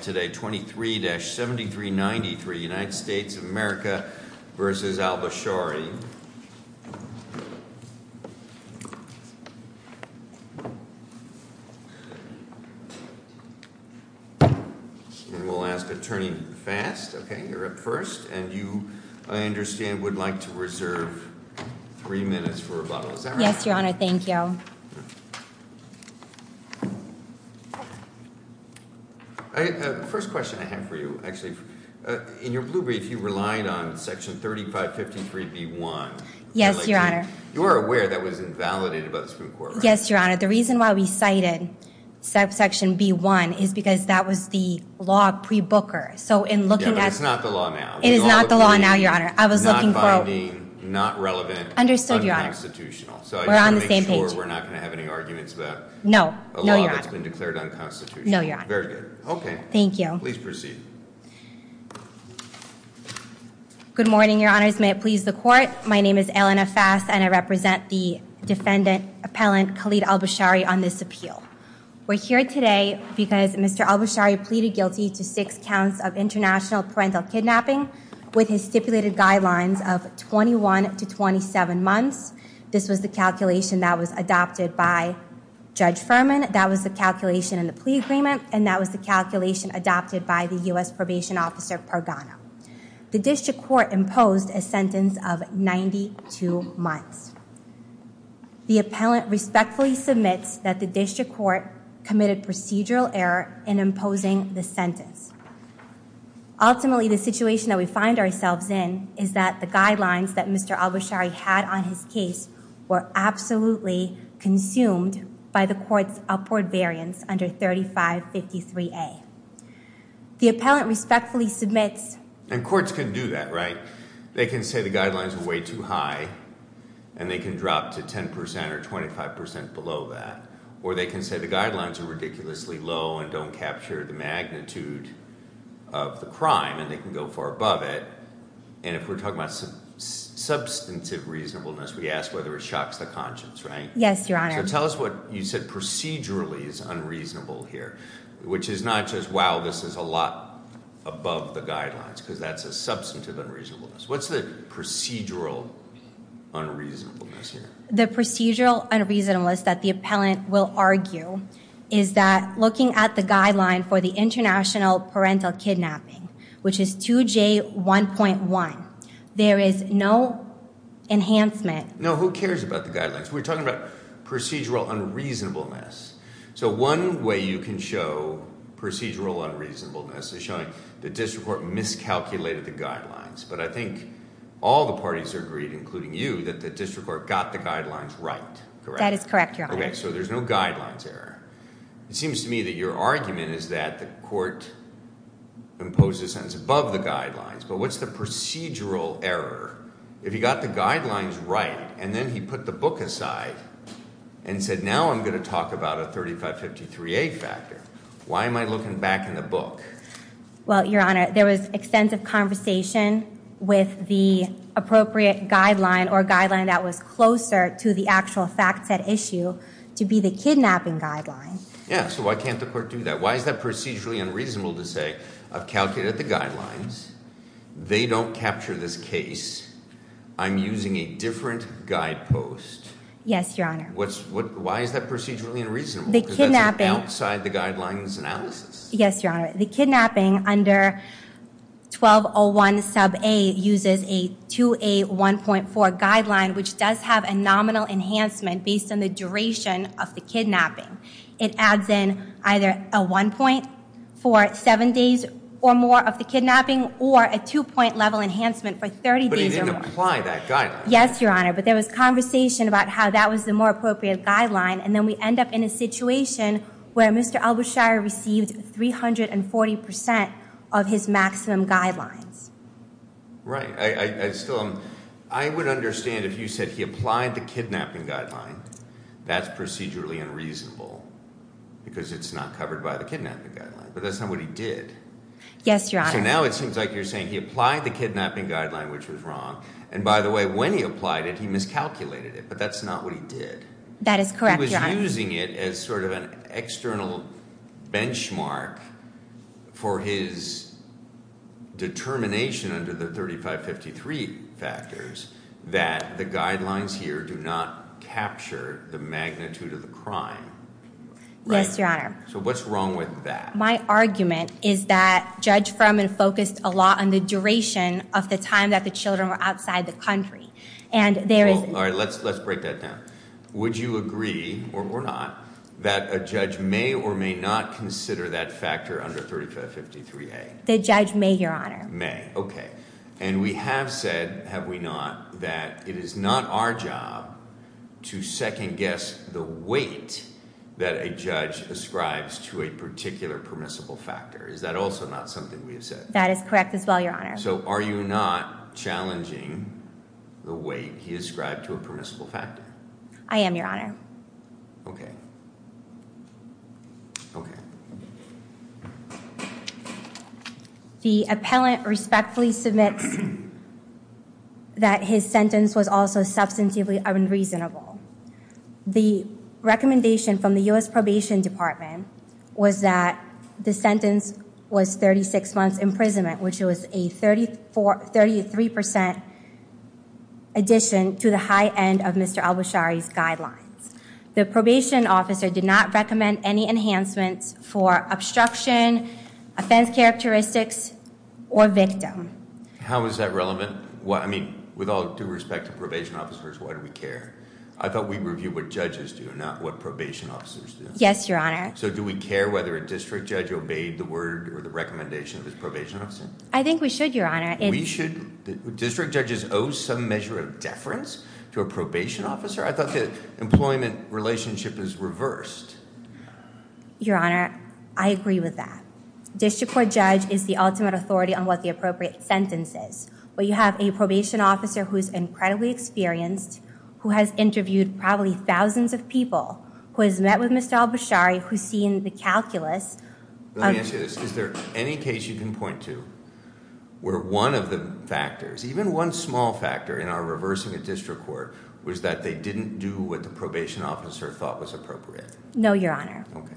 23-7393 United States of America v. Alboushari We'll ask Attorney Fast, okay, you're up first, and you, I understand, would like to reserve three minutes for rebuttal. Yes, Your Honor, thank you. First question I have for you, actually, in your blue brief you relied on section 3553 b1. Yes, Your Honor. You are aware that was invalidated by the Supreme Court, right? Yes, Your Honor, the reason why we cited section b1 is because that was the law pre-booker, so in looking at... Yeah, but it's not the law now. It is not the law now, Your Honor. I was looking for... Not finding, not relevant, unconstitutional. We're on the same page. So I just want to make sure we're not going to have any arguments about a law that's been declared unconstitutional. No, Your Honor. Very good. Okay. Thank you. Please proceed. Good morning, Your Honors, may it please the Court. My name is Elena Fast, and I represent the defendant, appellant Khalid Alboushari, on this appeal. We're here today because Mr. Alboushari pleaded guilty to six counts of international parental kidnapping with his stipulated guidelines of 21 to 27 months. This was the calculation that was adopted by Judge Furman, that was the calculation in the plea agreement, and that was the calculation adopted by the U.S. Probation Officer Pergano. The district court imposed a sentence of 92 months. The appellant respectfully submits that the district court committed procedural error in imposing the sentence. Ultimately, the situation that we find ourselves in is that the guidelines that Mr. Alboushari had on his case were absolutely consumed by the court's upward variance under 3553A. The appellant respectfully submits... And courts can do that, right? They can say the guidelines are way too high, and they can drop to 10% or 25% below that, or they can say the guidelines are ridiculously low and don't capture the magnitude of the crime, and they can go far above it. And if we're talking about substantive reasonableness, we ask whether it shocks the conscience, right? Yes, Your Honor. So tell us what you said procedurally is unreasonable here, which is not just, wow, this is a lot above the guidelines, because that's a substantive unreasonableness. What's the procedural unreasonableness here? The procedural unreasonableness that the appellant will argue is that looking at the guideline for the international parental kidnapping, which is 2J1.1, there is no enhancement... No, who cares about the guidelines? We're talking about procedural unreasonableness. So one way you can show procedural unreasonableness is showing the district court miscalculated the guidelines, but I think all the parties agreed, including you, that the district court got the guidelines right, correct? That is correct, Your Honor. Okay, so there's no guidelines error. It seems to me that your argument is that the court imposed a sentence above the guidelines, but what's the procedural error? If he got the guidelines right and then he put the book aside and said, now I'm going to talk about a 3553A factor, why am I looking back in the book? Well, Your Honor, there was extensive conversation with the appropriate guideline or guideline that was closer to the actual fact set issue to be the kidnapping guideline. Yeah, so why can't the court do that? Why is that procedurally unreasonable to say, I've calculated the guidelines, they don't capture this case, I'm using a different guidepost? Yes, Your Honor. What's, what, why is that procedurally unreasonable? The kidnapping... Outside the guidelines analysis? Yes, Your Honor. The kidnapping under 1201 sub A uses a 2A1.4 guideline, which does have a nominal enhancement based on the duration of the kidnapping. It adds in either a one point for seven days or more of the kidnapping, or a two point level enhancement for 30 days or more. But he didn't apply that guideline. Yes, Your Honor, but there was conversation about how that was the more appropriate guideline, and then we end up in a situation where Mr. Albusheir received 340% of his maximum guidelines. Right, I still, I would understand if you said he applied the kidnapping guideline, that's procedurally unreasonable, because it's not covered by the kidnapping guideline, but that's not what he did. Yes, Your Honor. So now it seems like you're saying he applied the kidnapping guideline, which was wrong, and by the way, when he applied it, he miscalculated it, but that's not what he did. That is correct, Your Honor. He was using it as sort of an external benchmark for his determination under the 3553 factors that the guidelines here do not capture the magnitude of the crime. Yes, Your Honor. So what's wrong with that? My argument is that Judge Frumman focused a lot on the duration of the time that the outside the country, and there is... All right, let's break that down. Would you agree, or not, that a judge may or may not consider that factor under 3553A? The judge may, Your Honor. May, okay, and we have said, have we not, that it is not our job to second-guess the weight that a judge ascribes to a particular permissible factor. Is that also not something we have said? That is correct as well, Your Honor. So are you not challenging the weight he ascribed to a permissible factor? I am, Your Honor. Okay, okay. The appellant respectfully submits that his sentence was also substantively unreasonable. The recommendation from the U.S. Probation Department was that the sentence was 36 months imprisonment, which was a 33% addition to the high end of Mr. Albasari's guidelines. The probation officer did not recommend any enhancements for obstruction, offense characteristics, or victim. How is that relevant? Well, I mean, with all due respect to probation officers, why do we care? I thought we review what judges do, not what probation officers do. Yes, Your Honor. So do we care whether a district judge obeyed the word or the recommendation of his probation officer? I think we should, Your Honor. We should? District judges owe some measure of deference to a probation officer? I thought the employment relationship is reversed. Your Honor, I agree with that. District Court judge is the ultimate authority on what the appropriate sentence is, but you have a probation officer who's incredibly experienced, who has interviewed probably thousands of people, who has met with Mr. Albasari, who's seen the calculus. Let me ask you this. Is there any case you can point to where one of the factors, even one small factor, in our reversing a district court was that they didn't do what the probation officer thought was appropriate? No, Your Honor. Okay.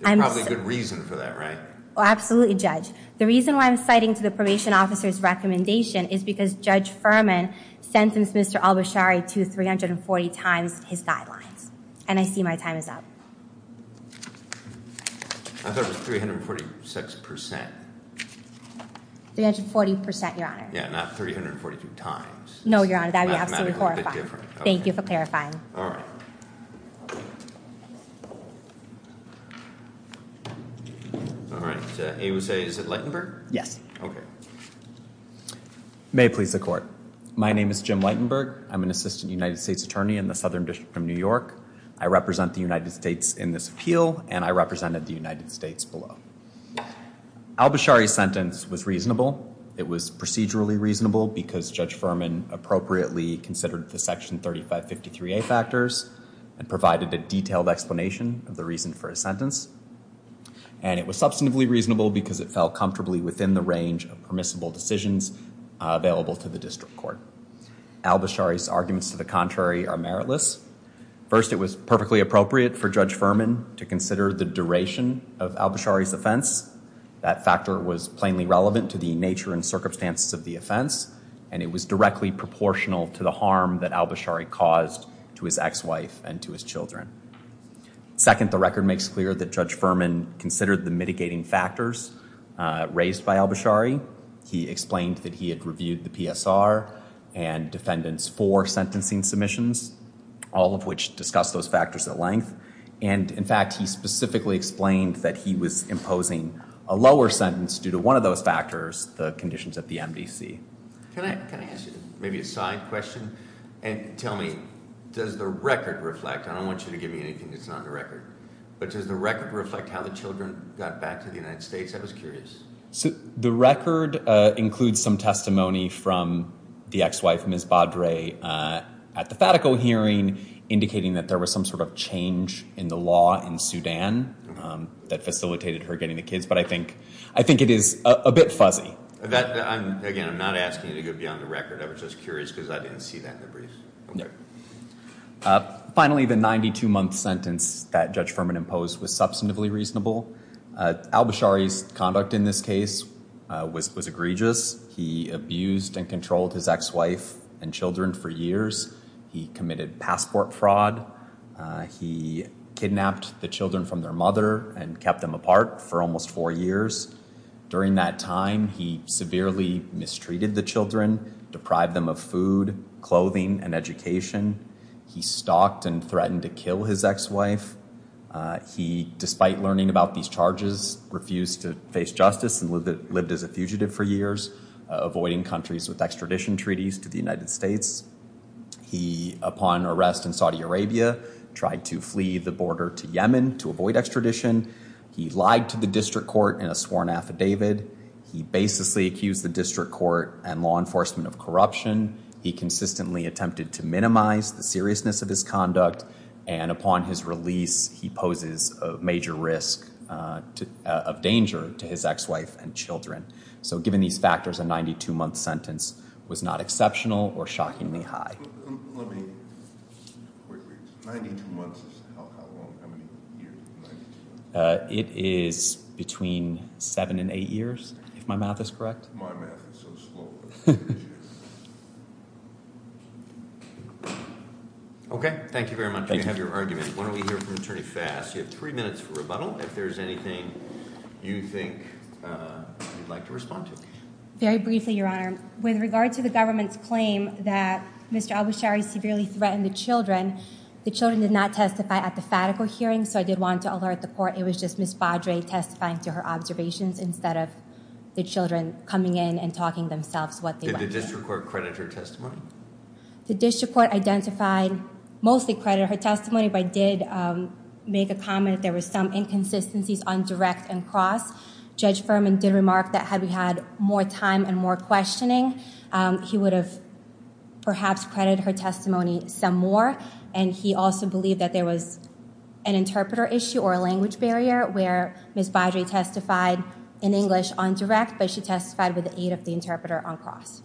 There's probably a good reason for that, right? Absolutely, Judge. The reason why I'm citing to the probation officer's recommendation is because Judge Furman sentenced Mr. Albasari to 340 times his guidelines, and I see my time is up. I thought it was 346 percent. 340 percent, Your Honor. Yeah, not 342 times. No, Your Honor. That would be absolutely horrifying. Thank you for clarifying. All right, AUSA, is it Lightenberg? Yes. May it please the court. My name is Jim Lightenberg. I'm an assistant United States Attorney in the Southern District of New York. I represent the United States in this appeal, and I represented the United States below. Albasari's sentence was reasonable. It was procedurally reasonable because Judge Furman appropriately considered the Section 3553A factors and provided a detailed explanation of the reason for his sentence, and it was substantively reasonable because it fell comfortably within the range of permissible decisions available to the district court. Albasari's arguments to the contrary are meritless. First, it was perfectly appropriate for Judge Furman to consider the duration of Albasari's offense. That factor was plainly relevant to the nature and circumstances of the offense, and it was directly proportional to the harm that Albasari caused to his ex-wife and to his children. Second, the record makes clear that Judge Furman considered the mitigating factors raised by Albasari. He explained that he had submitted to the PSR and defendants four sentencing submissions, all of which discussed those factors at length, and in fact, he specifically explained that he was imposing a lower sentence due to one of those factors, the conditions at the MDC. Can I ask you maybe a side question? And tell me, does the record reflect, I don't want you to give me anything that's not in the record, but does the record reflect how the children got back to the United States? I was curious. So the record includes some testimony from the ex-wife, Ms. Badre, at the Fatico hearing, indicating that there was some sort of change in the law in Sudan that facilitated her getting the kids, but I think it is a bit fuzzy. Again, I'm not asking you to go beyond the record. I was just curious because I didn't see that in the briefs. Finally, the 92-month sentence that Judge Furman imposed was substantively reasonable. Al-Bashari's conduct in this case was egregious. He abused and controlled his ex-wife and children for years. He committed passport fraud. He kidnapped the children from their mother and kept them apart for almost four years. During that time, he severely mistreated the children, deprived them of food, clothing, and education. He stalked and threatened to kill his ex-wife. He, despite learning about these charges, refused to face justice and lived as a fugitive for years, avoiding countries with extradition treaties to the United States. He, upon arrest in Saudi Arabia, tried to flee the border to Yemen to avoid extradition. He lied to the district court in a sworn affidavit. He baselessly accused the district court and law enforcement of corruption. He consistently attempted to minimize the seriousness of his conduct, and upon his release, he poses a major risk of danger to his ex-wife and children. So, given these factors, a 92-month sentence was not exceptional or shockingly high. It is between seven and eight years, if my math is correct. Okay, thank you very much. We have your argument. Why don't we hear from Attorney Fass. You have three minutes for rebuttal. If there's anything you think you'd like to respond to. Very briefly, Your Honor. With regard to the government's claim that Mr. Al-Bashari severely threatened the children, the children did not testify at the fatical hearing, so I did want to alert the court. It was just Ms. Baudrey testifying to her observations instead of the children coming in and talking themselves what they wanted. Did the district court credit her testimony? The district court identified, mostly credited her testimony, but did make a comment there was some inconsistencies on direct and cross. Judge Furman did remark that had we had more time and more questioning, he would have perhaps credited her testimony some more, and he also believed that there was an interpreter issue or a language barrier where Ms. Baudrey testified in English on direct, but she testified with the aid of the interpreter on cross.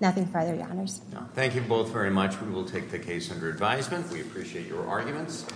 Nothing further, Your Honors. Thank you both very much. We will take the case under advisement. We appreciate your arguments.